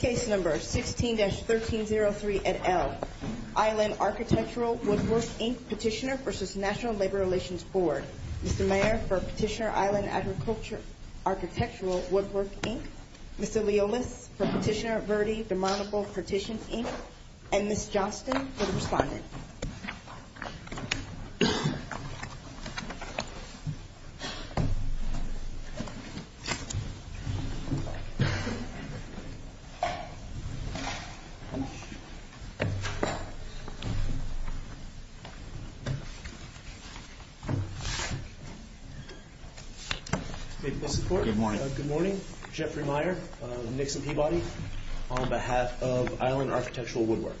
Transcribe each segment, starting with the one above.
Case No. 16-1303 et al. Island Architectural Woodwork, Inc. Petitioner v. National Labor Relations Board Mr. Mayer for Petitioner Island Architectural Woodwork, Inc. Mr. Leolis for Petitioner Verde Demontable Partition, Inc. And Ms. Johnston for the Respondent Mr. Mayer for Petitioner Island Architectural Woodwork, Inc. Good morning. Jeffrey Mayer, Nixon Peabody on behalf of Island Architectural Woodwork.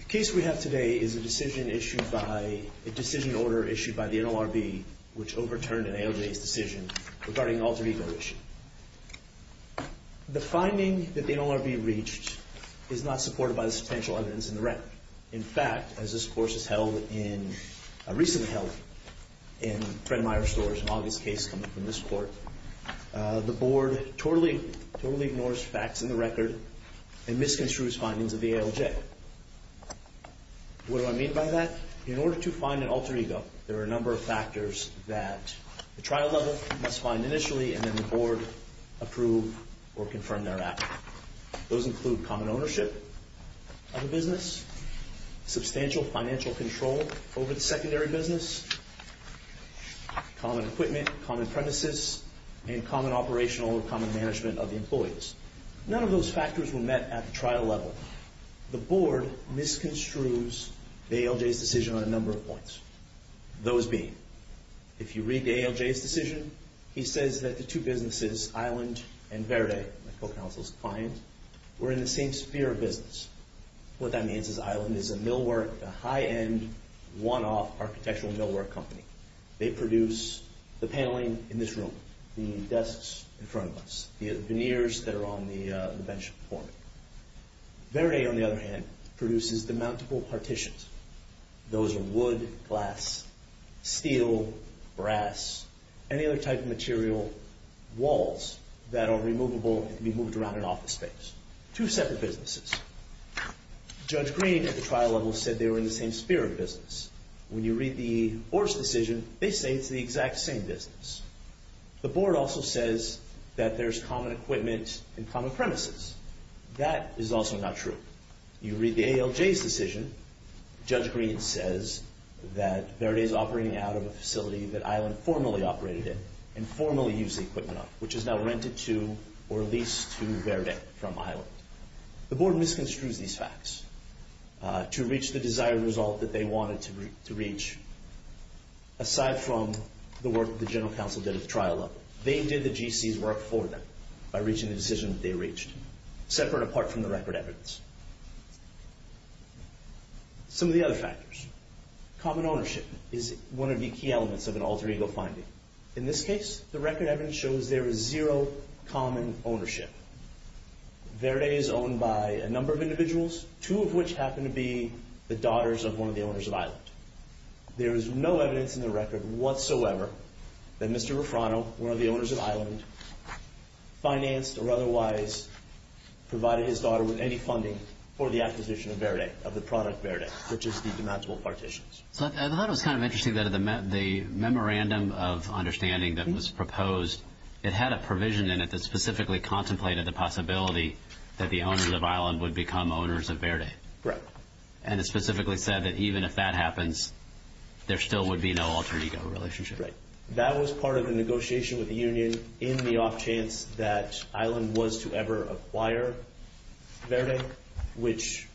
The case we have today is a decision issued by, a decision order issued by the NLRB which overturned an AOJ's decision regarding an alter ego issue. The finding that the NLRB reached is not supported by the substantial evidence in the record. In fact, as this course is held in, recently held in Fred Mayer's stores, an August case coming from this court, the board totally ignores facts in the record and misconstrues findings of the AOJ. What do I mean by that? In order to find an alter ego, there are a number of factors that the trial level must find initially and then the board approve or confirm thereafter. Those include common ownership of the business, substantial financial control over the secondary business, common equipment, common premises, and common operational or common management of the employees. None of those factors were met at the trial level. The board misconstrues the AOJ's decision on a number of points. Those being, if you read the AOJ's decision, he says that the two businesses, Island and Verde, my co-counsel's client, were in the same sphere of business. What that means is Island is a millwork, a high-end, one-off architectural millwork company. They produce the paneling in this room, the desks in front of us, the veneers that are on the bench for it. Verde, on the other hand, produces the mountable partitions. Those are wood, glass, steel, brass, any other type of material, walls that are removable and can be moved around in office space. Two separate businesses. Judge Green at the trial level said they were in the same sphere of business. When you read the board's decision, they say it's the exact same business. The board also says that there's common equipment and common premises. That is also not true. When you read the AOJ's decision, Judge Green says that Verde is operating out of a facility that Island formally operated in and formally used the equipment of, which is now rented to or leased to Verde from Island. The board misconstrues these facts to reach the desired result that they wanted to reach. Aside from the work that the general counsel did at the trial level, they did the GC's work for them by reaching the decision that they reached, separate apart from the record evidence. Some of the other factors. Common ownership is one of the key elements of an alter ego finding. In this case, the record evidence shows there is zero common ownership. Verde is owned by a number of individuals, two of which happen to be the daughters of one of the owners of Island. There is no evidence in the record whatsoever that Mr. Refrano, one of the owners of Island, financed or otherwise provided his daughter with any funding for the acquisition of Verde, of the product Verde, which is the demountable partitions. I thought it was kind of interesting that the memorandum of understanding that was proposed, it had a provision in it that specifically contemplated the possibility that the owners of Island would become owners of Verde. Correct. And it specifically said that even if that happens, there still would be no alter ego relationship. Right. That was part of the negotiation with the union in the off chance that Island was to ever acquire Verde, which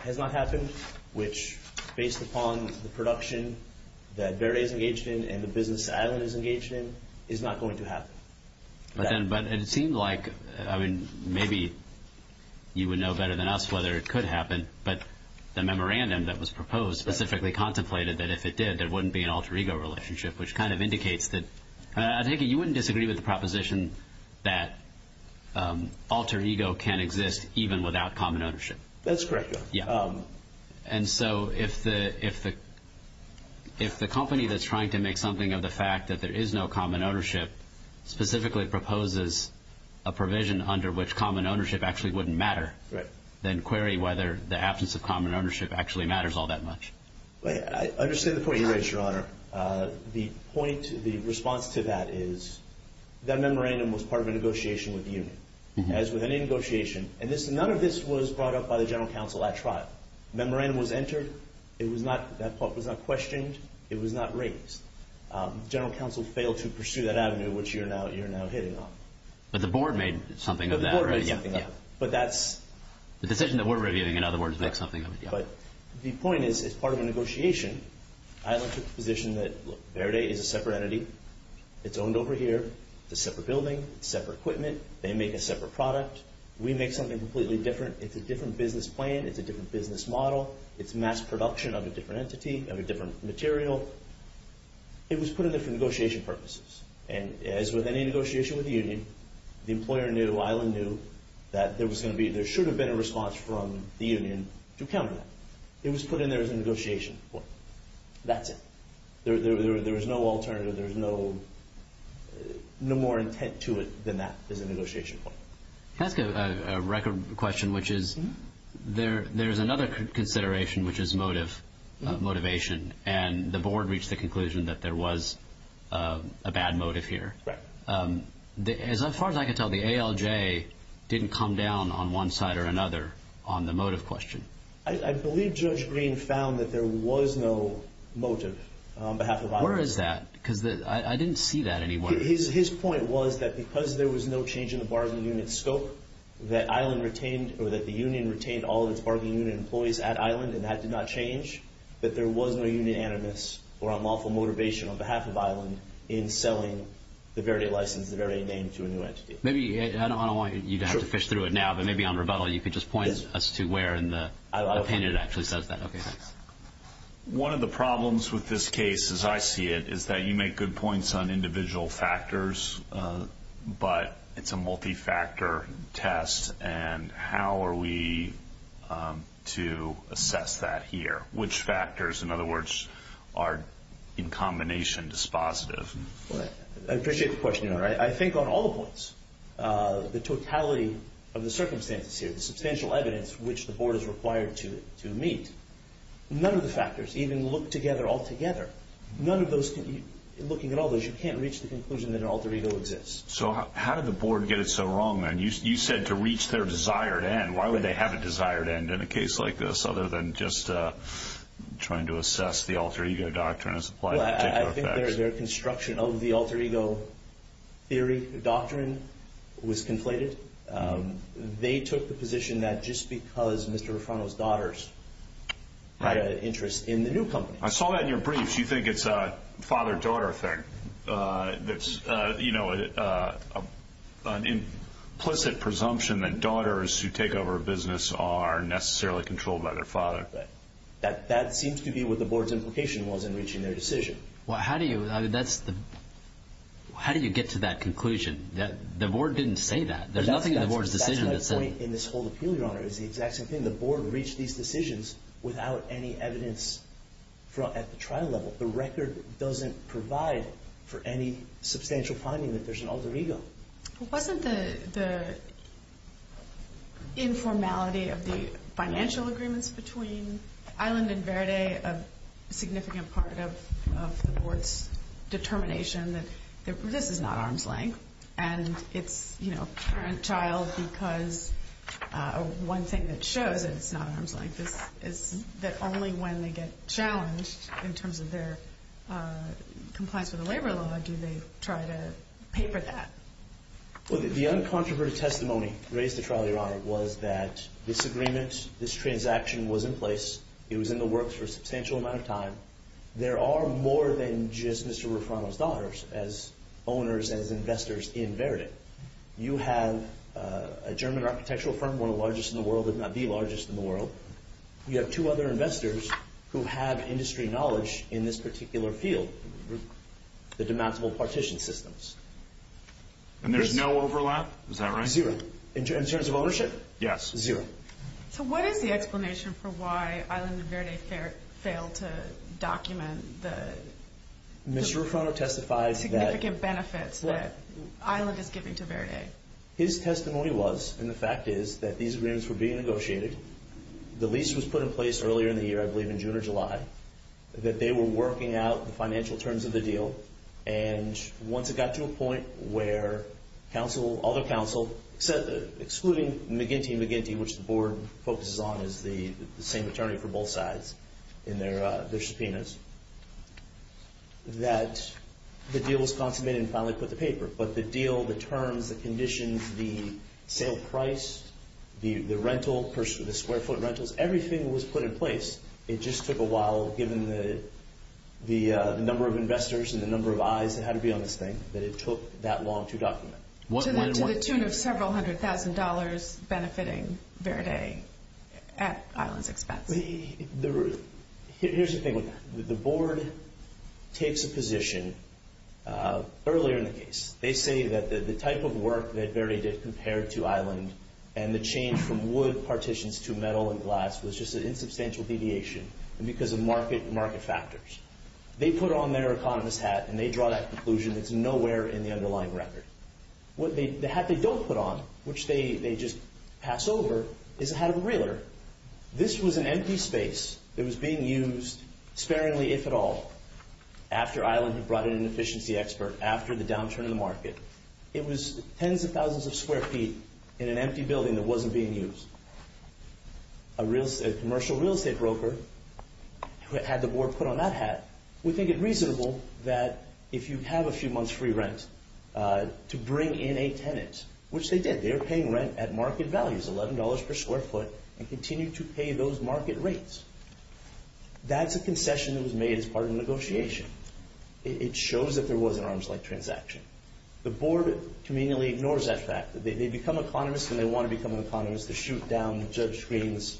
has not happened, which based upon the production that Verde is engaged in and the business Island is engaged in, is not going to happen. But it seemed like, I mean, maybe you would know better than us whether it could happen, but the memorandum that was proposed specifically contemplated that if it did, there wouldn't be an alter ego relationship, which kind of indicates that I think you wouldn't disagree with the proposition that alter ego can exist even without common ownership. That's correct. And so if the company that's trying to make something of the fact that there is no common ownership specifically proposes a provision under which common ownership actually wouldn't matter, then query whether the absence of common ownership actually matters all that much. I understand the point you made, Your Honor. The point, the response to that is that memorandum was part of a negotiation with the union. As with any negotiation, and none of this was brought up by the general counsel at trial. Memorandum was entered. It was not, that part was not questioned. It was not raised. General counsel failed to pursue that avenue, which you're now hitting on. But the board made something of that. But that's... The decision that we're reviewing, in other words, makes something of it. But the point is, as part of a negotiation, Island took the position that Verde is a separate entity. It's owned over here. It's a separate building. It's separate equipment. They make a separate product. We make something completely different. It's a different business plan. It's a different business model. It's mass production of a different entity, of a different material. It was put in there for negotiation purposes. And as with any negotiation with the union, the employer knew, Island knew, that there was going to be, there should have been a response from the union to counter that. It was put in there as a negotiation point. That's it. There was no alternative. There was no more intent to it than that as a negotiation point. Can I ask a record question, which is, there's another consideration, which is motive, motivation. And the board reached the conclusion that there was a bad motive here. As far as I can tell, the ALJ didn't come down on one side or another on the motive question. I believe Judge Green found that there was no motive on behalf of Island. Where is that? Because I didn't see that anywhere. His point was that because there was no change in the bargaining unit scope, that Island retained, or that the union retained all of its bargaining unit employees at Island, and that did not change, that there was no union animus or unlawful motivation on behalf of Island in selling the very license, the very name to a new entity. Maybe, I don't want you to have to fish through it now, but maybe on rebuttal, you could just point us to where in the opinion it actually says that. Okay, thanks. One of the problems with this case, as I see it, is that you make good points on individual factors, but it's a multi-factor test, and how are we to assess that here? Which factors, in other words, are in combination dispositive? I appreciate the question. I think on all the points, the totality of the circumstances here, the substantial evidence which the board is required to meet, none of the factors even look together altogether. Looking at all those, you can't reach the conclusion that an alter ego exists. So how did the board get it so wrong, then? You said to reach their desired end. Why would they have a desired end in a case like this, I think their construction of the alter ego theory, doctrine, was conflated. They took the position that just because Mr. Refrano's daughters had an interest in the new company. I saw that in your briefs. You think it's a father-daughter thing. It's an implicit presumption that daughters who take over a business are necessarily controlled by their father. That seems to be what the board's implication was in reaching their decision. How do you get to that conclusion? The board didn't say that. There's nothing in the board's decision that said that. That's my point in this whole appeal, Your Honor. It's the exact same thing. The board reached these decisions without any evidence at the trial level. The record doesn't provide for any substantial finding that there's an alter ego. Wasn't the informality of the financial agreements between Island and Verde a significant part of the board's determination that this is not arm's length, and it's parent-child because one thing that shows that it's not arm's length is that only when they get challenged in terms of their compliance with the labor law do they try to pay for that. The uncontroverted testimony raised at trial, Your Honor, was that this agreement, this transaction was in place. It was in the works for a substantial amount of time. There are more than just Mr. Refrano's daughters as owners, as investors in Verde. You have a German architectural firm, one of the largest in the world, if not the largest in the world. You have two other investors who have industry knowledge in this particular field. The denounceable partition systems. And there's no overlap? Is that right? Zero. In terms of ownership? Yes. Zero. So what is the explanation for why Island and Verde failed to document the significant benefits that Island is giving to Verde? His testimony was, and the fact is, that these agreements were being negotiated. The lease was put in place earlier in the year, I believe in June or July, that they were working out the financial terms of the deal. And once it got to a point where other counsel, excluding McGinty and McGinty, which the board focuses on as the same attorney for both sides in their subpoenas, that the deal was consummated and finally put to paper. But the deal, the terms, the conditions, the sale price, the rental, the square foot rentals, everything was put in place. It just took a while, given the number of investors and the number of eyes that had to be on this thing, that it took that long to document. To the tune of several hundred thousand dollars benefiting Verde at Island's expense. Here's the thing with that. The board takes a position earlier in the case. They say that the type of work that Verde did compared to Island and the change from wood partitions to metal and glass was just an insubstantial deviation because of market factors. They put on their economist hat and they draw that conclusion that's nowhere in the underlying record. The hat they don't put on, which they just pass over, is a hat of a realtor. This was an empty space. It was being used sparingly, if at all, after Island had brought in an efficiency expert, after the downturn in the market. It was tens of thousands of square feet in an empty building that wasn't being used. A commercial real estate broker who had the board put on that hat would think it reasonable that if you have a few months' free rent, to bring in a tenant, which they did. They were paying rent at market values, $11 per square foot, and continued to pay those market rates. That's a concession that was made as part of the negotiation. It shows that there was an arms-length transaction. The board conveniently ignores that fact. They become economists and they want to become economists to shoot down Judge Green's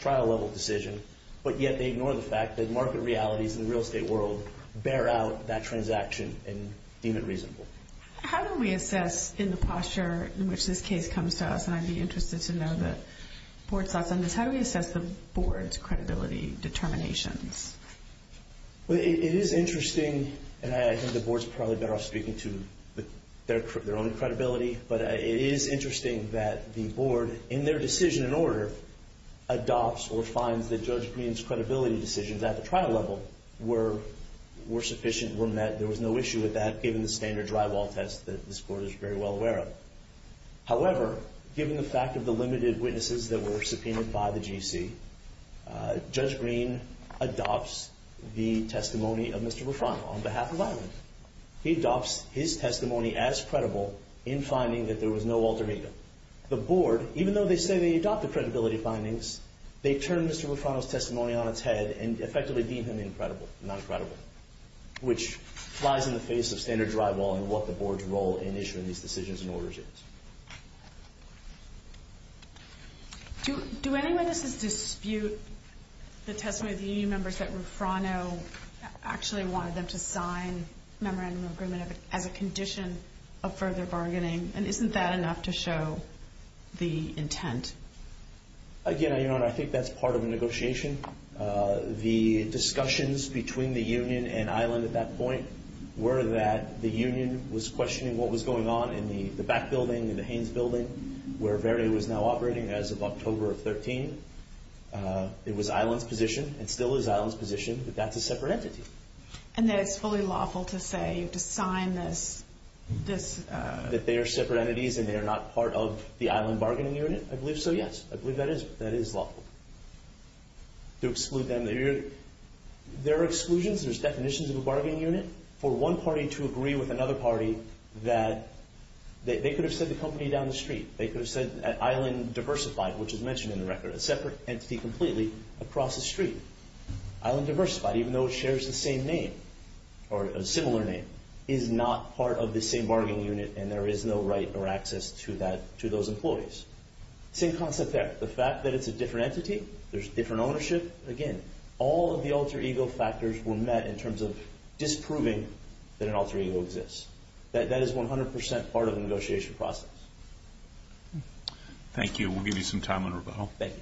trial-level decision, but yet they ignore the fact that market realities in the real estate world bear out that transaction and deem it reasonable. How do we assess, in the posture in which this case comes to us, and I'd be interested to know the board's thoughts on this, how do we assess the board's credibility determinations? It is interesting, and I think the board's probably better off speaking to their own credibility, but it is interesting that the board, in their decision in order, adopts or finds that Judge Green's credibility decisions at the trial level were sufficient, were met. There was no issue with that, given the standard drywall test that this board is very well aware of. However, given the fact of the limited witnesses that were subpoenaed by the GC, Judge Green adopts the testimony of Mr. Rufrano on behalf of Island. He adopts his testimony as credible in finding that there was no alter ego. The board, even though they say they adopt the credibility findings, they turn Mr. Rufrano's testimony on its head and effectively deem him non-credible, which flies in the face of standard drywall and what the board's role in issuing these decisions and orders is. Do any witnesses dispute the testimony of the union members that Rufrano actually wanted them to sign memorandum of agreement as a condition of further bargaining, and isn't that enough to show the intent? Again, Your Honor, I think that's part of the negotiation. The discussions between the union and Island at that point were that the union was questioning what was going on in the back building, in the Haynes building, where Verde was now operating as of October of 2013. It was Island's position, and still is Island's position, that that's a separate entity. And that it's fully lawful to say, to sign this? That they are separate entities and they are not part of the Island bargaining unit? I believe so, yes. I believe that is lawful. To exclude them, there are exclusions, there's definitions of a bargaining unit. For one party to agree with another party that they could have said the company down the street. They could have said Island Diversified, which is mentioned in the record. A separate entity completely across the street. Island Diversified, even though it shares the same name, or a similar name, is not part of the same bargaining unit and there is no right or access to those employees. Same concept there. The fact that it's a different entity, there's different ownership. Again, all of the alter ego factors were met in terms of disproving that an alter ego exists. That is 100% part of the negotiation process. Thank you. We'll give you some time on rebuttal. Thank you.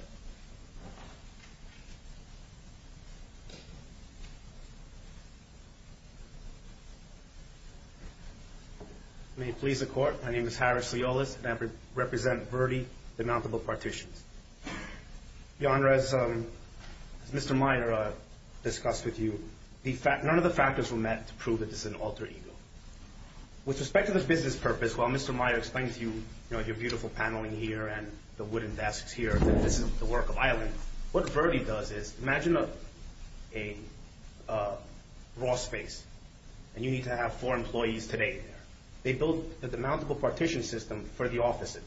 May it please the Court, my name is Harris Leolas and I represent Verde Denountable Partitions. Your Honor, as Mr. Meyer discussed with you, none of the factors were met to prove that this is an alter ego. With respect to this business purpose, while Mr. Meyer explained to you, you know, your beautiful paneling here and the wooden desks here, that this is the work of Island, what Verde does is, imagine a raw space and you need to have four employees today. They built a denountable partition system for the offices.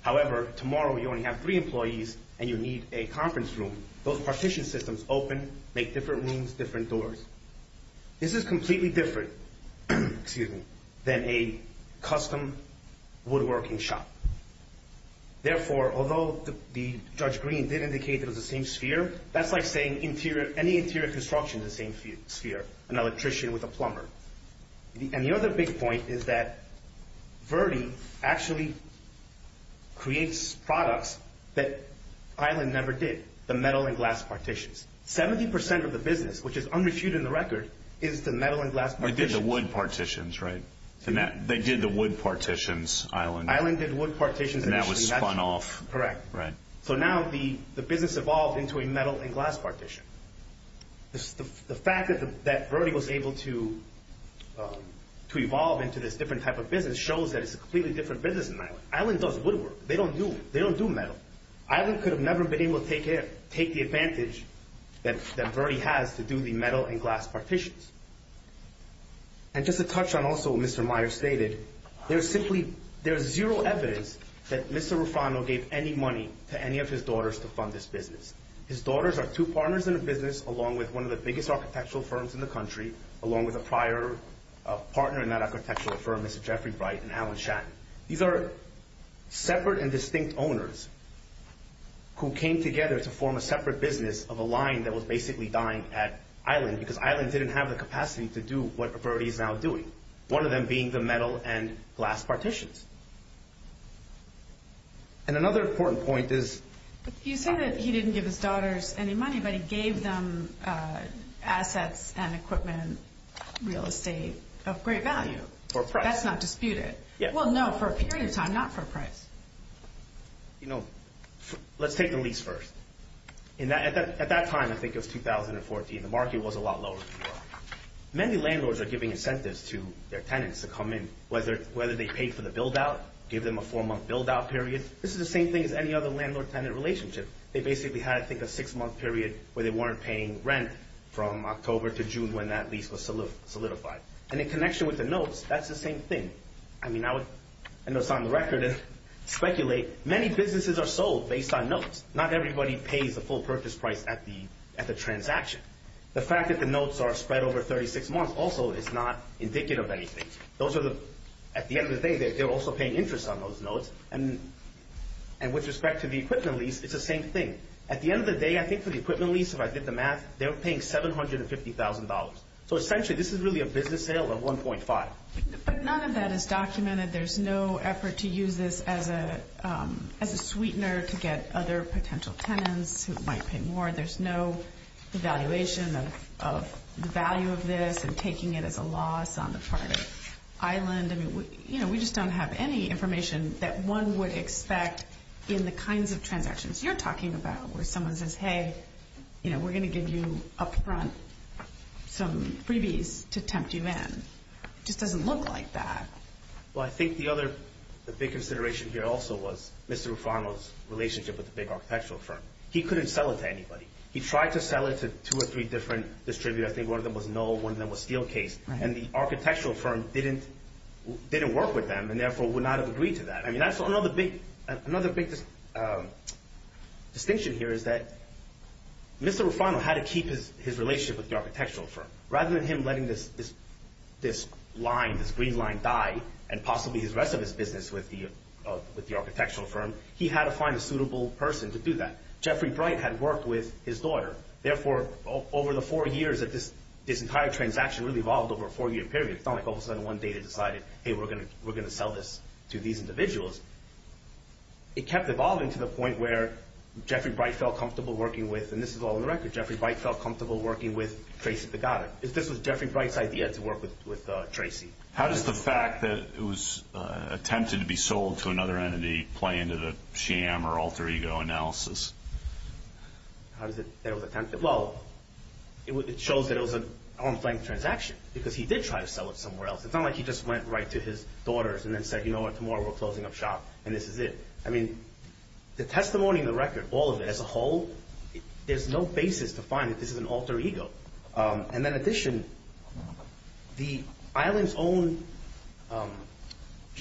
However, tomorrow you only have three employees and you need a conference room. Those partition systems open, make different rooms, different doors. This is completely different than a custom woodworking shop. Therefore, although Judge Green did indicate that it was the same sphere, that's like saying any interior construction is the same sphere, an electrician with a plumber. And the other big point is that Verde actually creates products that Island never did. The metal and glass partitions. Seventy percent of the business, which is unrefuted in the record, is the metal and glass partitions. They did the wood partitions, right? They did the wood partitions, Island. Island did wood partitions initially. And that was spun off. Correct. So now the business evolved into a metal and glass partition. The fact that Verde was able to evolve into this different type of business shows that it's a completely different business than Island. Island does woodwork. They don't do metal. Island could have never been able to take the advantage that Verde has to do the metal and glass partitions. And just to touch on also what Mr. Meyer stated, there is zero evidence that Mr. Rufano gave any money to any of his daughters to fund this business. His daughters are two partners in the business, along with one of the biggest architectural firms in the country, along with a prior partner in that architectural firm, Mr. Jeffrey Bright and Alan Shatton. These are separate and distinct owners who came together to form a separate business of a line that was basically dying at Island, because Island didn't have the capacity to do what Verde is now doing, one of them being the metal and glass partitions. And another important point is— You said that he didn't give his daughters any money, but he gave them assets and equipment, real estate of great value. For a price. That's not disputed. Well, no, for a period of time, not for a price. You know, let's take the lease first. At that time, I think it was 2014, the market was a lot lower than it is now. Many landlords are giving incentives to their tenants to come in, whether they pay for the build-out, give them a four-month build-out period. This is the same thing as any other landlord-tenant relationship. They basically had, I think, a six-month period where they weren't paying rent from October to June when that lease was solidified. And in connection with the notes, that's the same thing. I mean, I would end this on the record and speculate. Many businesses are sold based on notes. Not everybody pays the full purchase price at the transaction. The fact that the notes are spread over 36 months also is not indicative of anything. At the end of the day, they're also paying interest on those notes, and with respect to the equipment lease, it's the same thing. At the end of the day, I think for the equipment lease, if I did the math, they're paying $750,000. So essentially, this is really a business sale of $1.5. But none of that is documented. There's no effort to use this as a sweetener to get other potential tenants who might pay more. There's no evaluation of the value of this and taking it as a loss on the part of Island. We just don't have any information that one would expect in the kinds of transactions you're talking about where someone says, hey, we're going to give you up front some freebies to tempt you in. It just doesn't look like that. Well, I think the other big consideration here also was Mr. Rufano's relationship with the big architectural firm. He couldn't sell it to anybody. He tried to sell it to two or three different distributors. I think one of them was no, one of them was steel case. And the architectural firm didn't work with them and therefore would not have agreed to that. I mean, that's another big distinction here is that Mr. Rufano had to keep his relationship with the architectural firm. Rather than him letting this line, this green line die and possibly his rest of his business with the architectural firm, he had to find a suitable person to do that. Jeffrey Bright had worked with his lawyer. Therefore, over the four years that this entire transaction really evolved over a four-year period, it's not like all of a sudden one day they decided, hey, we're going to sell this to these individuals. It kept evolving to the point where Jeffrey Bright felt comfortable working with, and this is all on the record, Jeffrey Bright felt comfortable working with Tracy Pagotta. This was Jeffrey Bright's idea to work with Tracy. How does the fact that it was attempted to be sold to another entity play into the sham or alter ego analysis? Well, it shows that it was an on-the-flank transaction because he did try to sell it somewhere else. It's not like he just went right to his daughters and then said, you know what, tomorrow we're closing up shop and this is it. I mean, the testimony in the record, all of it as a whole, there's no basis to find that this is an alter ego. And in addition, the Island's own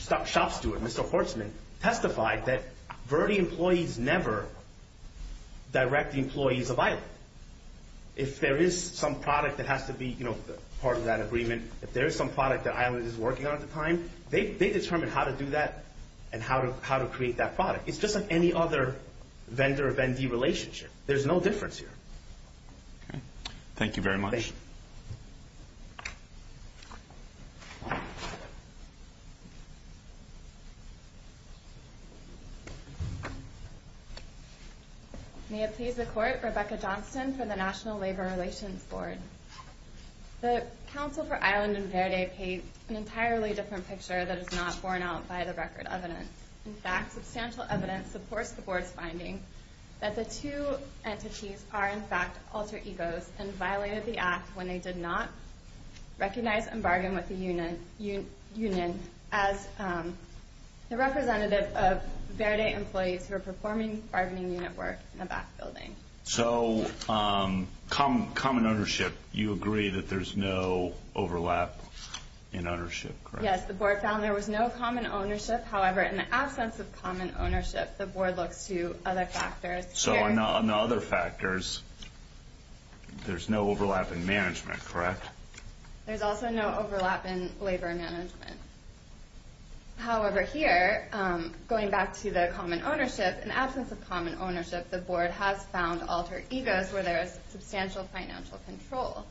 shop steward, Mr. Hortzman, testified that Verde employees never direct the employees of Island. If there is some product that has to be part of that agreement, if there is some product that Island is working on at the time, they determine how to do that and how to create that product. It's just like any other vendor-vendee relationship. There's no difference here. Thank you very much. May it please the Court, Rebecca Johnston from the National Labor Relations Board. The counsel for Island and Verde paint an entirely different picture that is not borne out by the record evidence. In fact, substantial evidence supports the Board's finding that the two entities are in fact alter egos and violated the act when they did not recognize and bargain with the union as the representative of Verde employees who are performing bargaining unit work in the back building. So common ownership, you agree that there's no overlap in ownership, correct? Yes, the Board found there was no common ownership. However, in the absence of common ownership, the Board looks to other factors. So on the other factors, there's no overlap in management, correct? There's also no overlap in labor management. However, here, going back to the common ownership, in the absence of common ownership, the Board has found alter egos where there is substantial financial control.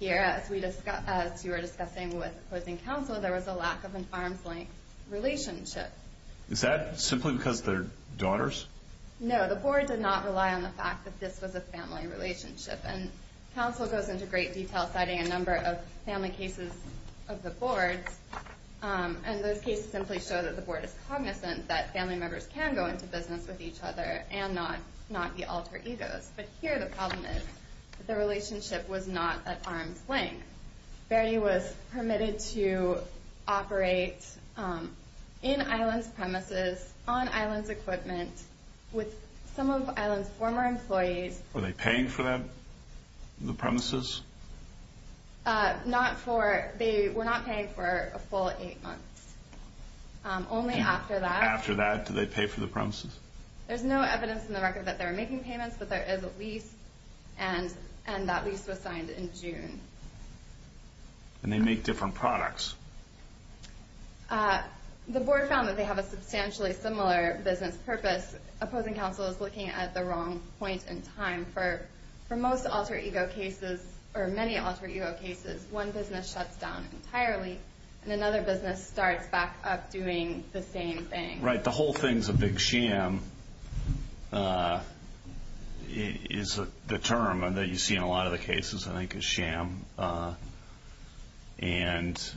Here, as you were discussing with opposing counsel, there was a lack of an arm's length relationship. Is that simply because they're daughters? No, the Board did not rely on the fact that this was a family relationship. And counsel goes into great detail citing a number of family cases of the Board, and those cases simply show that the Board is cognizant that family members can go into business with each other and not be alter egos. But here the problem is that the relationship was not at arm's length. Bertie was permitted to operate in Island's premises, on Island's equipment, with some of Island's former employees. Were they paying for them, the premises? They were not paying for a full eight months. Only after that. After that, did they pay for the premises? There's no evidence in the record that they were making payments, but there is a lease, and that lease was signed in June. And they make different products. The Board found that they have a substantially similar business purpose. Opposing counsel is looking at the wrong point in time. For most alter ego cases, or many alter ego cases, one business shuts down entirely, and another business starts back up doing the same thing. Right. The whole thing's a big sham is the term that you see in a lot of the cases, I think, is sham. And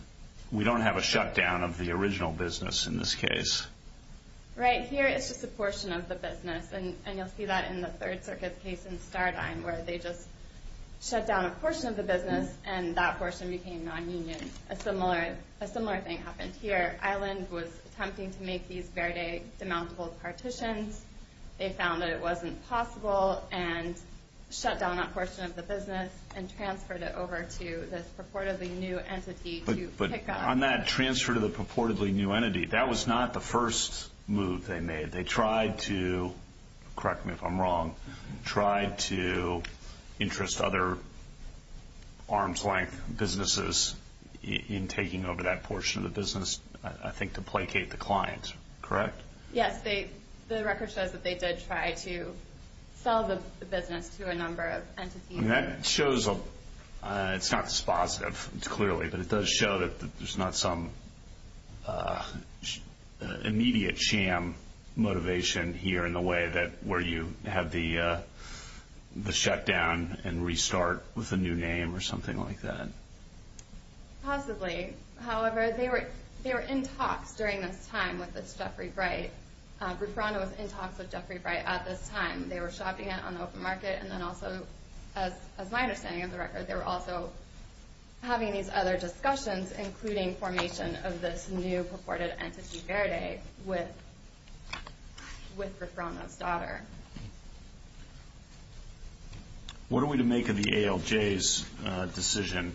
we don't have a shutdown of the original business in this case. Right. Here it's just a portion of the business. And you'll see that in the Third Circuit case in Stardine, where they just shut down a portion of the business, and that portion became non-union. A similar thing happened here. Island was attempting to make these Verde demountable partitions. They found that it wasn't possible and shut down that portion of the business and transferred it over to this purportedly new entity to pick up. But on that transfer to the purportedly new entity, that was not the first move they made. They tried to, correct me if I'm wrong, tried to interest other arm's-length businesses in taking over that portion of the business, I think to placate the client, correct? Yes. The record says that they did try to sell the business to a number of entities. And that shows a – it's not dispositive, clearly, but it does show that there's not some immediate sham motivation here in the way that where you have the shutdown and restart with a new name or something like that. Possibly. However, they were in talks during this time with this Jeffrey Bright. Rufrano was in talks with Jeffrey Bright at this time. They were shopping it on the open market. And then also, as my understanding of the record, they were also having these other discussions, including formation of this new purported entity, Verde, with Rufrano's daughter. What are we to make of the ALJ's decision?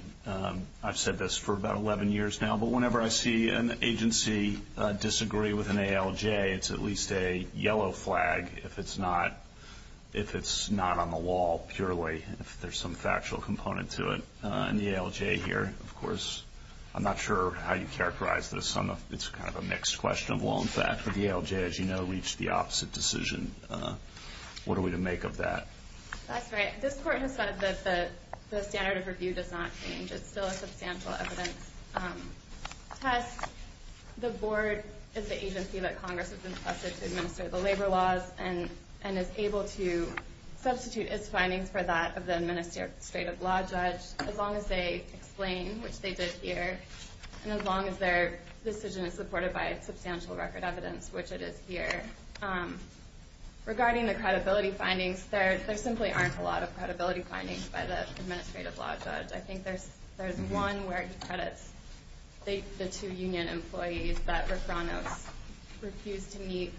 I've said this for about 11 years now, but whenever I see an agency disagree with an ALJ, it's at least a yellow flag if it's not on the wall, purely, if there's some factual component to it. And the ALJ here, of course, I'm not sure how you characterize this. It's kind of a mixed question of, well, in fact, the ALJ, as you know, reached the opposite decision. What are we to make of that? That's right. This Court has said that the standard of review does not change. It's still a substantial evidence test. The Board is the agency that Congress has entrusted to administer the labor laws and is able to substitute its findings for that of the Administrative Law Judge as long as they explain, which they did here, and as long as their decision is supported by substantial record evidence, which it is here. Regarding the credibility findings, there simply aren't a lot of credibility findings by the Administrative Law Judge. I think there's one where it depredits the two union employees that Refranos refused to meet.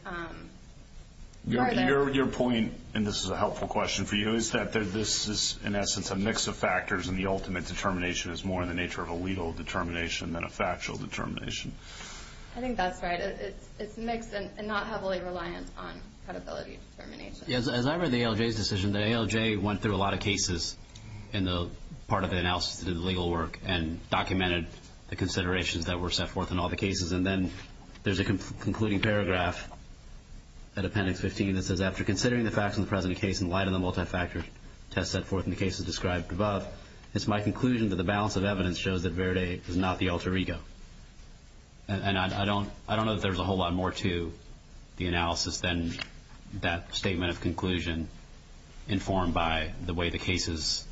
Your point, and this is a helpful question for you, is that this is, in essence, a mix of factors, and the ultimate determination is more in the nature of a legal determination than a factual determination. I think that's right. It's mixed and not heavily reliant on credibility determination. As I read the ALJ's decision, the ALJ went through a lot of cases in the part of the analysis that did the legal work and documented the considerations that were set forth in all the cases, and then there's a concluding paragraph at Appendix 15 that says, After considering the facts in the present case in light of the multifactor test set forth in the cases described above, it's my conclusion that the balance of evidence shows that Verde is not the alter ego. I don't know that there's a whole lot more to the analysis than that statement of conclusion informed by the way the cases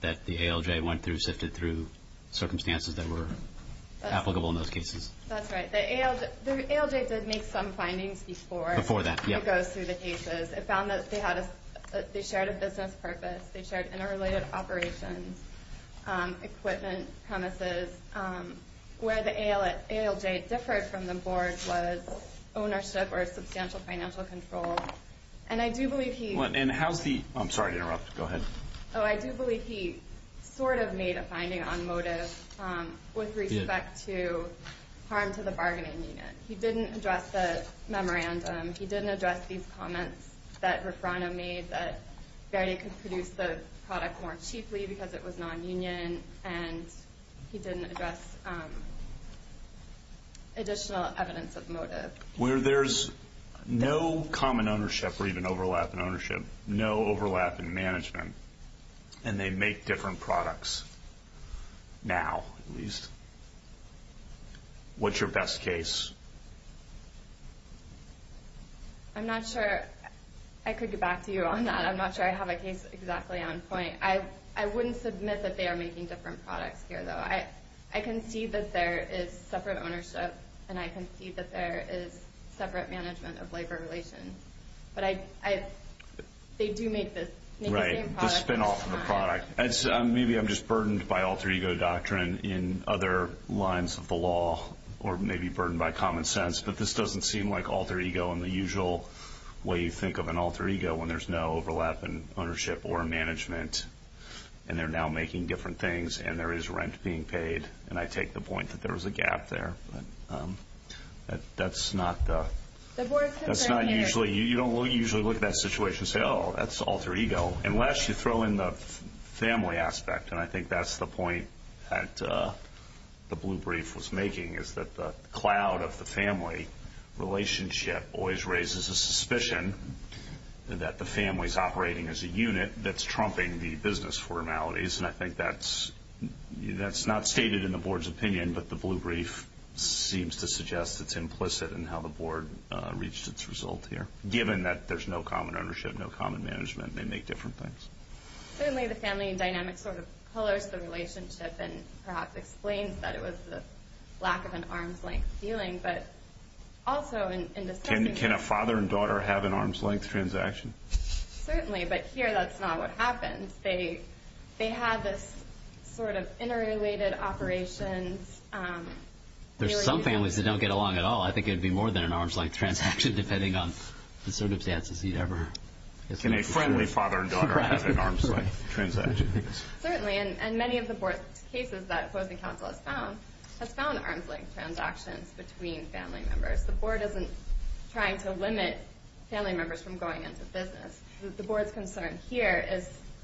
that the ALJ went through sifted through circumstances that were applicable in those cases. That's right. The ALJ did make some findings before it goes through the cases. It found that they shared a business purpose. They shared interrelated operations, equipment, premises. Where the ALJ differed from the board was ownership or substantial financial control. I do believe he sort of made a finding on motive with respect to harm to the bargaining unit. He didn't address the memorandum. He didn't address these comments that Ruffrano made that Verde could produce the product more cheaply because it was non-union, and he didn't address additional evidence of motive. Where there's no common ownership or even overlap in ownership, no overlap in management, and they make different products now, at least. What's your best case? I'm not sure I could get back to you on that. I'm not sure I have a case exactly on point. I wouldn't submit that they are making different products here, though. I can see that there is separate ownership, and I can see that there is separate management of labor relations. But they do make the same product. Right, the spinoff of the product. Maybe I'm just burdened by alter ego doctrine in other lines of the law, or maybe burdened by common sense, but this doesn't seem like alter ego in the usual way you think of an alter ego, when there's no overlap in ownership or management, and they're now making different things, and there is rent being paid, and I take the point that there was a gap there. That's not usually, you don't usually look at that situation and say, oh, that's alter ego, unless you throw in the family aspect, and I think that's the point that the blue brief was making, is that the cloud of the family relationship always raises a suspicion that the family is operating as a unit that's trumping the business formalities, and I think that's not stated in the board's opinion, but the blue brief seems to suggest it's implicit in how the board reached its result here, given that there's no common ownership, no common management, and they make different things. Certainly the family dynamic sort of colors the relationship and perhaps explains that it was the lack of an arm's length dealing, but also in discussing it. Can a father and daughter have an arm's length transaction? Certainly, but here that's not what happens. They have this sort of interrelated operations. There's some families that don't get along at all. I think it would be more than an arm's length transaction, depending on the circumstances you'd ever... Can a friendly father and daughter have an arm's length transaction? Certainly, and many of the board cases that opposing counsel has found, has found arm's length transactions between family members. The board isn't trying to limit family members from going into business. The board's concern here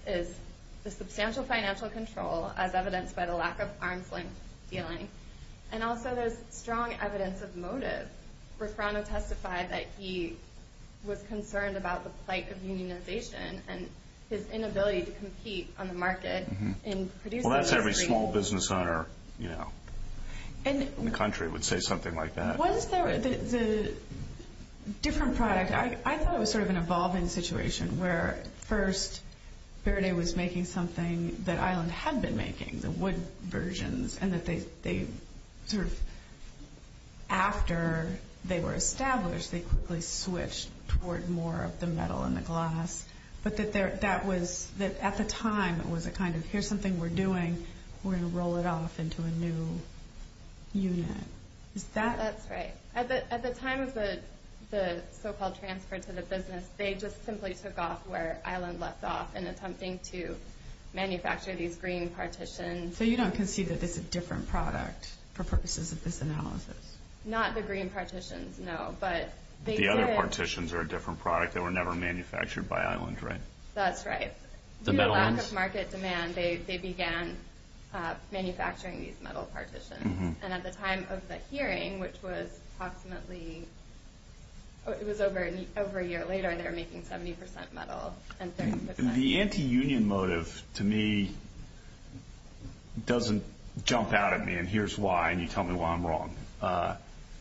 is the substantial financial control, as evidenced by the lack of arm's length dealing, and also there's strong evidence of motive. Ruffrano testified that he was concerned about the plight of unionization and his inability to compete on the market in producing... Well, that's every small business owner in the country would say something like that. What is the different product? I thought it was sort of an evolving situation, where first Verde was making something that Island had been making, the wood versions, and that they sort of, after they were established, they quickly switched toward more of the metal and the glass, but that at the time it was a kind of, here's something we're doing, we're going to roll it off into a new unit. That's right. At the time of the so-called transfer to the business, they just simply took off where Island left off in attempting to manufacture these green partitions. So you don't concede that this is a different product for purposes of this analysis? Not the green partitions, no, but they did... The other partitions are a different product. They were never manufactured by Island, right? That's right. Due to lack of market demand, they began manufacturing these metal partitions, and at the time of the hearing, which was approximately, it was over a year later, they were making 70% metal. The anti-union motive, to me, doesn't jump out at me, and here's why, and you tell me why I'm wrong.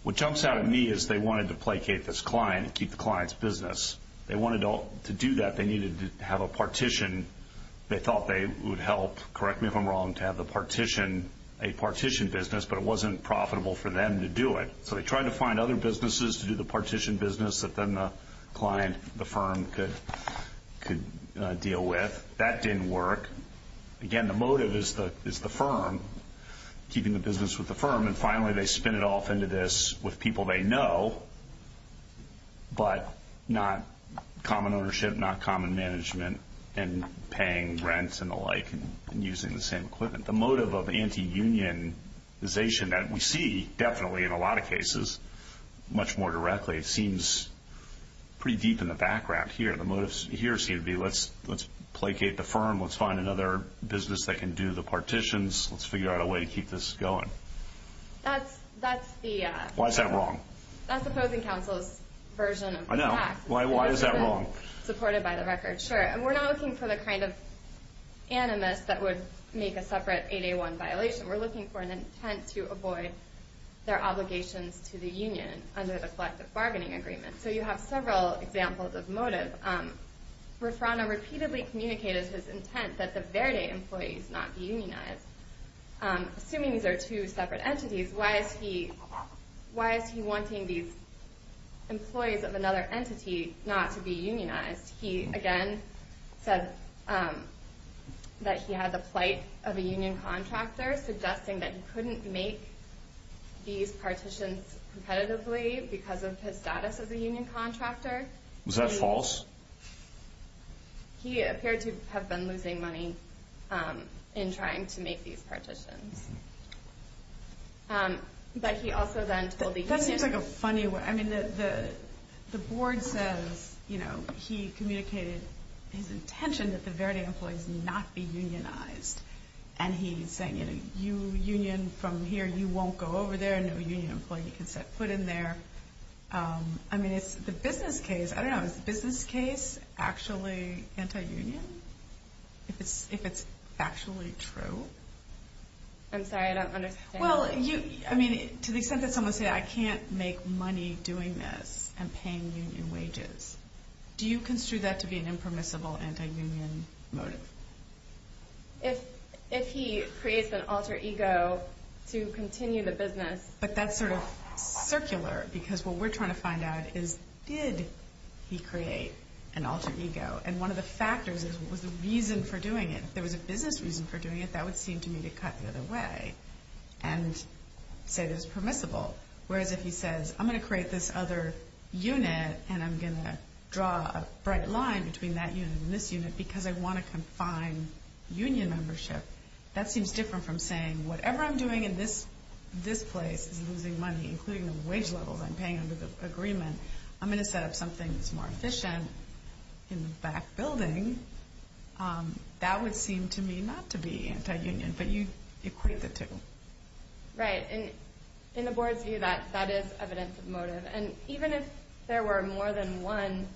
What jumps out at me is they wanted to placate this client and keep the client's business. They wanted to do that. They needed to have a partition. They thought they would help, correct me if I'm wrong, to have a partition business, but it wasn't profitable for them to do it. So they tried to find other businesses to do the partition business that then the client, the firm, could deal with. That didn't work. Again, the motive is the firm, keeping the business with the firm, and finally they spin it off into this with people they know, but not common ownership, not common management, and paying rent and the like and using the same equipment. The motive of anti-unionization that we see definitely in a lot of cases, much more directly, seems pretty deep in the background here. The motives here seem to be let's placate the firm, let's find another business that can do the partitions, let's figure out a way to keep this going. Why is that wrong? That's the opposing counsel's version of the facts. I know. Why is that wrong? Supported by the record, sure. We're not looking for the kind of animus that would make a separate 8A1 violation. We're looking for an intent to avoid their obligations to the union under the collective bargaining agreement. So you have several examples of motive. Refrano repeatedly communicated his intent that the Verde employees not be unionized. Assuming these are two separate entities, why is he wanting these employees of another entity not to be unionized? He, again, said that he had the plight of a union contractor, suggesting that he couldn't make these partitions competitively because of his status as a union contractor. Was that false? He appeared to have been losing money in trying to make these partitions. But he also then told the union— That seems like a funny way—I mean, the board says he communicated his intention that the Verde employees not be unionized, and he's saying, you know, you union from here, you won't go over there, no union employee can step foot in there. I mean, it's the business case. I don't know. Is the business case actually anti-union, if it's factually true? I'm sorry. I don't understand. Well, I mean, to the extent that someone said, I can't make money doing this and paying union wages, do you construe that to be an impermissible anti-union motive? If he creates an alter ego to continue the business— But that's sort of circular, because what we're trying to find out is did he create an alter ego? And one of the factors is what was the reason for doing it. If there was a business reason for doing it, that would seem to me to cut the other way and say that it's permissible. Whereas if he says, I'm going to create this other unit and I'm going to draw a bright line between that unit and this unit because I want to confine union membership, that seems different from saying whatever I'm doing in this place is losing money, including the wage levels I'm paying under the agreement. I'm going to set up something that's more efficient in the back building. That would seem to me not to be anti-union, but you equate the two. Right. In the board's view, that is evidence of motive. And even if there were more than one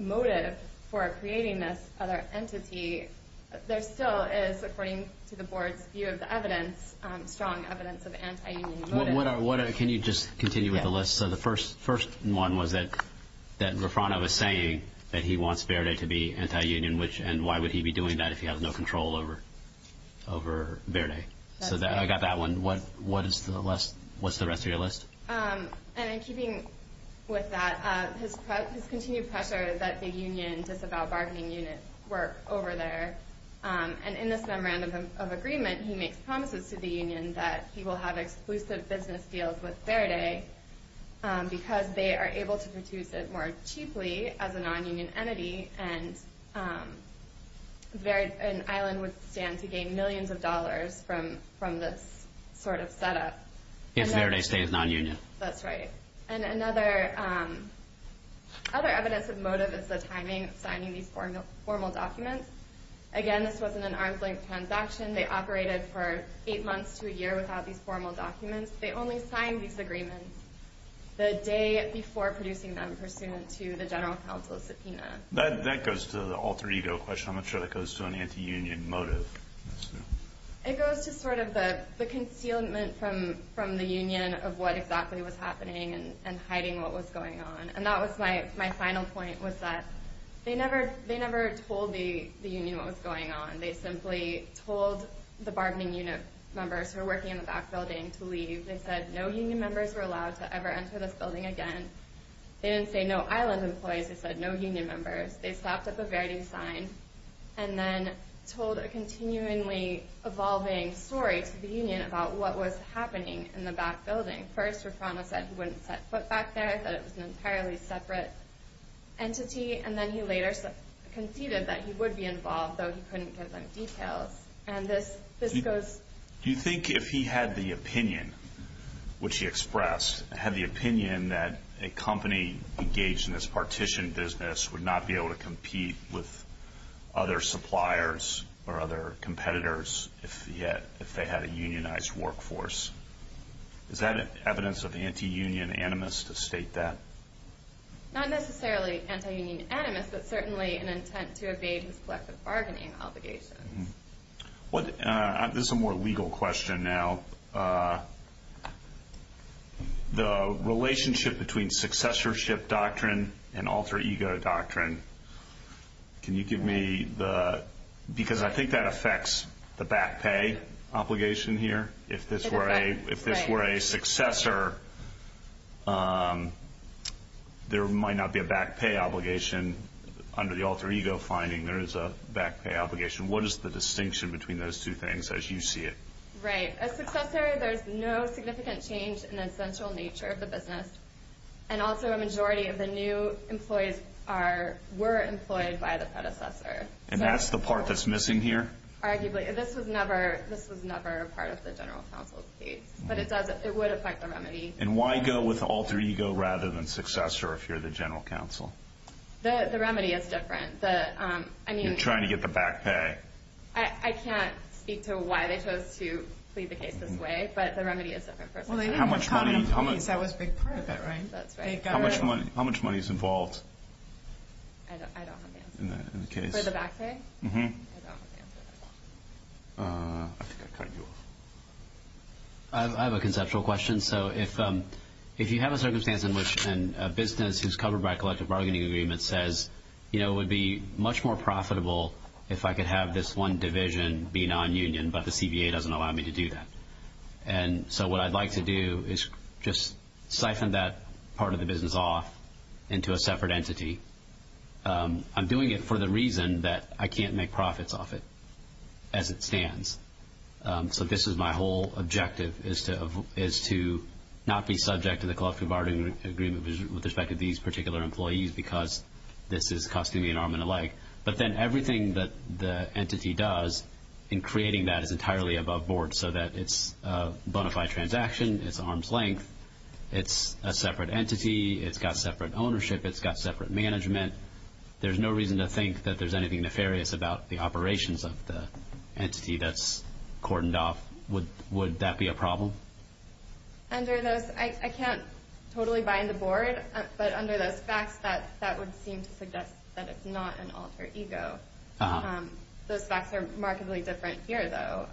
motive for creating this other entity, there still is, according to the board's view of the evidence, strong evidence of anti-union motive. Can you just continue with the list? Yes. The first one was that Raffano was saying that he wants Verde to be anti-union and why would he be doing that if he has no control over Verde. I got that one. What's the rest of your list? And in keeping with that, his continued pressure is that the union disavow bargaining unit work over there. And in this memorandum of agreement, he makes promises to the union that he will have exclusive business deals with Verde because they are able to produce it more cheaply as a non-union entity and an island would stand to gain millions of dollars from this sort of setup. If Verde stays non-union. That's right. And another evidence of motive is the timing of signing these formal documents. Again, this wasn't an arm's length transaction. They operated for eight months to a year without these formal documents. They only signed these agreements the day before producing them pursuant to the general counsel's subpoena. That goes to the alter ego question. I'm not sure that goes to an anti-union motive. It goes to sort of the concealment from the union of what exactly was happening and hiding what was going on. And that was my final point was that they never told the union what was going on. They simply told the bargaining unit members who were working in the back building to leave. They said no union members were allowed to ever enter this building again. They didn't say no island employees. They said no union members. They slapped up a Verde sign and then told a continually evolving story to the union about what was happening in the back building. First, Raffano said he wouldn't set foot back there, that it was an entirely separate entity. And then he later conceded that he would be involved, though he couldn't give them details. And this goes... Do you think if he had the opinion, which he expressed, had the opinion that a company engaged in this partition business would not be able to compete with other suppliers or other competitors if they had a unionized workforce, is that evidence of anti-union animus to state that? Not necessarily anti-union animus, but certainly an intent to evade his collective bargaining obligations. This is a more legal question now. The relationship between successorship doctrine and alter ego doctrine... Can you give me the... Because I think that affects the back pay obligation here. If this were a successor, there might not be a back pay obligation. Under the alter ego finding, there is a back pay obligation. What is the distinction between those two things as you see it? Right. A successor, there's no significant change in the essential nature of the business, and also a majority of the new employees were employed by the predecessor. And that's the part that's missing here? Arguably. This was never a part of the general counsel's case, but it would affect the remedy. And why go with alter ego rather than successor if you're the general counsel? The remedy is different. You're trying to get the back pay. I can't speak to why they chose to plead the case this way, but the remedy is different for a successor. That was a big part of it, right? That's right. How much money is involved? I don't have the answer. For the back pay? Mm-hmm. I don't have the answer. I think I heard you. I have a conceptual question. If you have a circumstance in which a business is covered by a collective bargaining agreement that says, you know, it would be much more profitable if I could have this one division be non-union, but the CBA doesn't allow me to do that. And so what I'd like to do is just siphon that part of the business off into a separate entity. I'm doing it for the reason that I can't make profits off it as it stands. So this is my whole objective is to not be subject to the collective bargaining agreement with respect to these particular employees because this is costing me an arm and a leg. But then everything that the entity does in creating that is entirely above board so that it's a bona fide transaction, it's arm's length, it's a separate entity, it's got separate ownership, it's got separate management. There's no reason to think that there's anything nefarious about the operations of the entity that's cordoned off. Would that be a problem? Under those, I can't totally bind the board, but under those facts, that would seem to suggest that it's not an alter ego. Those facts are remarkably different here, though.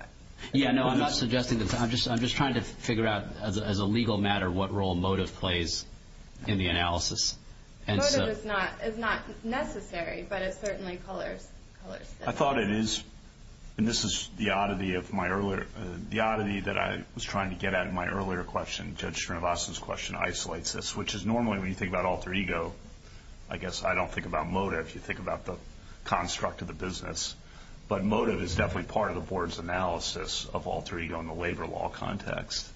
Yeah, no, I'm not suggesting that. I'm just trying to figure out as a legal matter what role motive plays in the analysis. Motive is not necessary, but it certainly colors it. I thought it is, and this is the oddity that I was trying to get at in my earlier question. Judge Srinivasan's question isolates this, which is normally when you think about alter ego, I guess I don't think about motive. You think about the construct of the business. But motive is definitely part of the board's analysis of alter ego in the labor law context.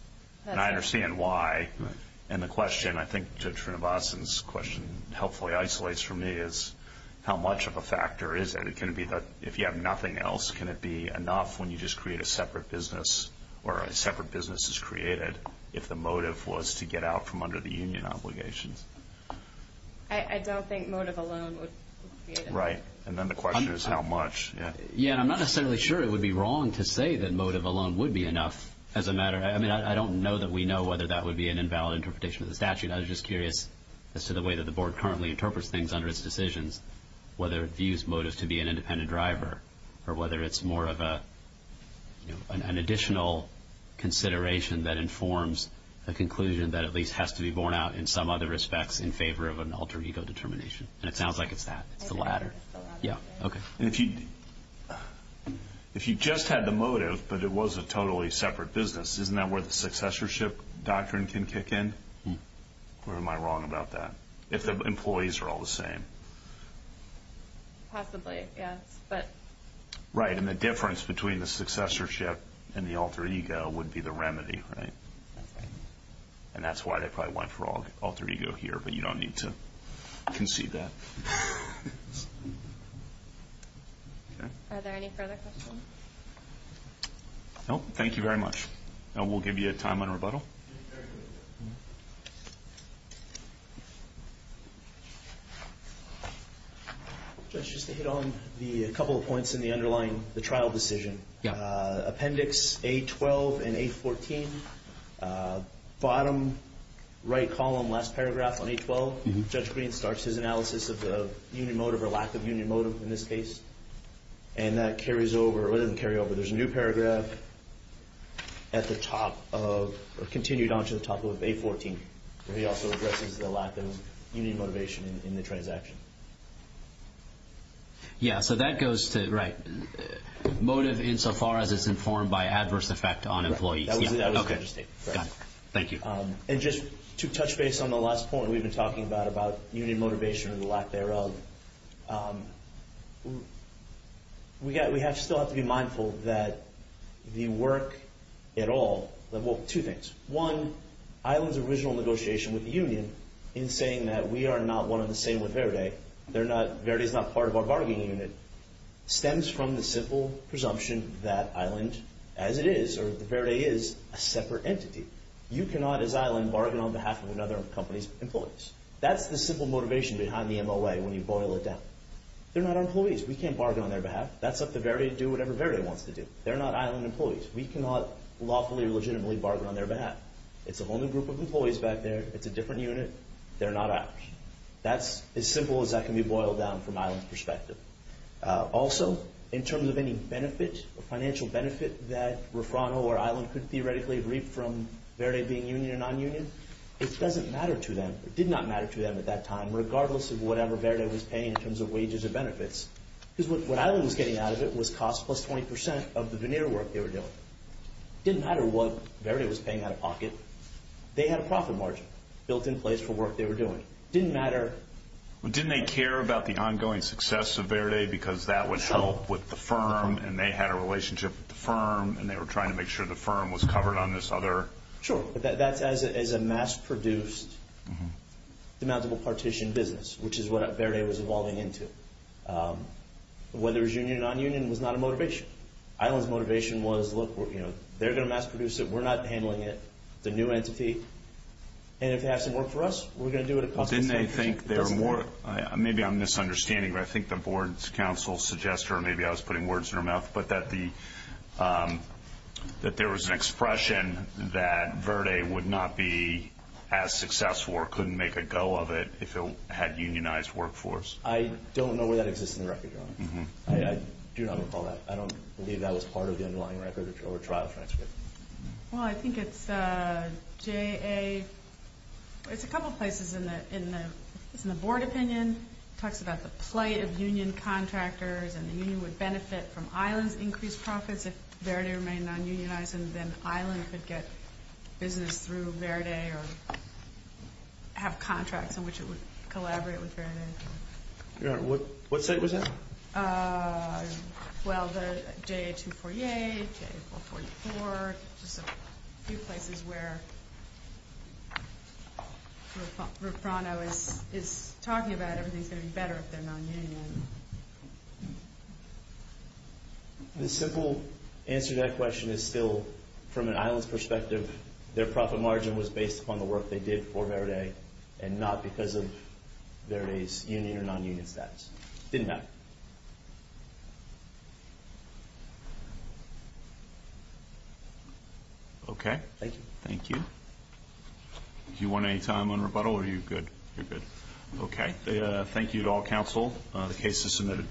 And I understand why. And the question, I think Judge Srinivasan's question helpfully isolates for me, is how much of a factor is it? If you have nothing else, can it be enough when you just create a separate business or a separate business is created if the motive was to get out from under the union obligations? I don't think motive alone would create enough. Right, and then the question is how much. Yeah, I'm not necessarily sure it would be wrong to say that motive alone would be enough as a matter. I mean, I don't know that we know whether that would be an invalid interpretation of the statute. I was just curious as to the way that the board currently interprets things under its decisions, whether it views motive to be an independent driver or whether it's more of an additional consideration that informs a conclusion that at least has to be borne out in some other respects in favor of an alter ego determination. And it sounds like it's that. It's the latter. If you just had the motive but it was a totally separate business, isn't that where the successorship doctrine can kick in? Or am I wrong about that, if the employees are all the same? Possibly, yes. Right, and the difference between the successorship and the alter ego would be the remedy, right? And that's why they probably went for alter ego here, but you don't need to concede that. Are there any further questions? No, thank you very much. And we'll give you a time on rebuttal. Judge, just to hit on a couple of points in the underlying trial decision. Appendix A-12 and A-14, bottom right column, last paragraph on A-12, Judge Green starts his analysis of union motive or lack of union motive in this case, and that carries over, or it doesn't carry over. There's a new paragraph at the top of, or continued on to the top of A-14, where he also addresses the lack of union motivation in the transaction. Yeah, so that goes to, right, motive insofar as it's informed by adverse effect on employees. That was the understatement. Thank you. And just to touch base on the last point we've been talking about, about union motivation or the lack thereof, we still have to be mindful that the work at all, well, two things. One, Island's original negotiation with the union in saying that we are not one and the same with Verde, Verde is not part of our bargaining unit, stems from the simple presumption that Island, as it is, or Verde is, a separate entity. You cannot, as Island, bargain on behalf of another company's employees. That's the simple motivation behind the MOA when you boil it down. They're not our employees. We can't bargain on their behalf. That's up to Verde to do whatever Verde wants to do. They're not Island employees. We cannot lawfully or legitimately bargain on their behalf. It's a whole new group of employees back there. It's a different unit. They're not ours. That's as simple as that can be boiled down from Island's perspective. Also, in terms of any benefit, a financial benefit, that Refrano or Island could theoretically reap from Verde being union or non-union, it doesn't matter to them, or did not matter to them at that time, regardless of whatever Verde was paying in terms of wages or benefits. Because what Island was getting out of it was cost plus 20% of the veneer work they were doing. It didn't matter what Verde was paying out of pocket. They had a profit margin built in place for work they were doing. It didn't matter. Didn't they care about the ongoing success of Verde because that would help with the firm, and they had a relationship with the firm, and they were trying to make sure the firm was covered on this other... Sure, but that's as a mass-produced, demountable partition business, which is what Verde was evolving into. Whether it was union or non-union was not a motivation. Island's motivation was, look, they're going to mass-produce it. We're not handling it. It's a new entity, and if it hasn't worked for us, we're going to do it across the state. Didn't they think they were more... Maybe I'm misunderstanding, but I think the board's counsel suggests, or maybe I was putting words in her mouth, but that there was an expression that Verde would not be as successful or couldn't make a go of it if it had unionized workforce. I don't know where that exists in the record, Your Honor. I do not recall that. I don't believe that was part of the underlying record or trial transcript. Well, I think it's J.A. It's a couple places in the board opinion. It talks about the plight of union contractors and the union would benefit from Island's increased profits if Verde remained non-unionized, and then Island could get business through Verde or have contracts in which it would collaborate with Verde. Your Honor, what state was that? Well, the J.A. 248, J.A. 444, just a few places where Rufrano is talking about where everything's going to be better if they're non-unionized. The simple answer to that question is still, from an Island's perspective, their profit margin was based upon the work they did for Verde and not because of Verde's union or non-union status. It didn't matter. Okay. Thank you. Thank you. Do you want any time on rebuttal or are you good? You're good. Okay. Thank you to all counsel. The case is submitted.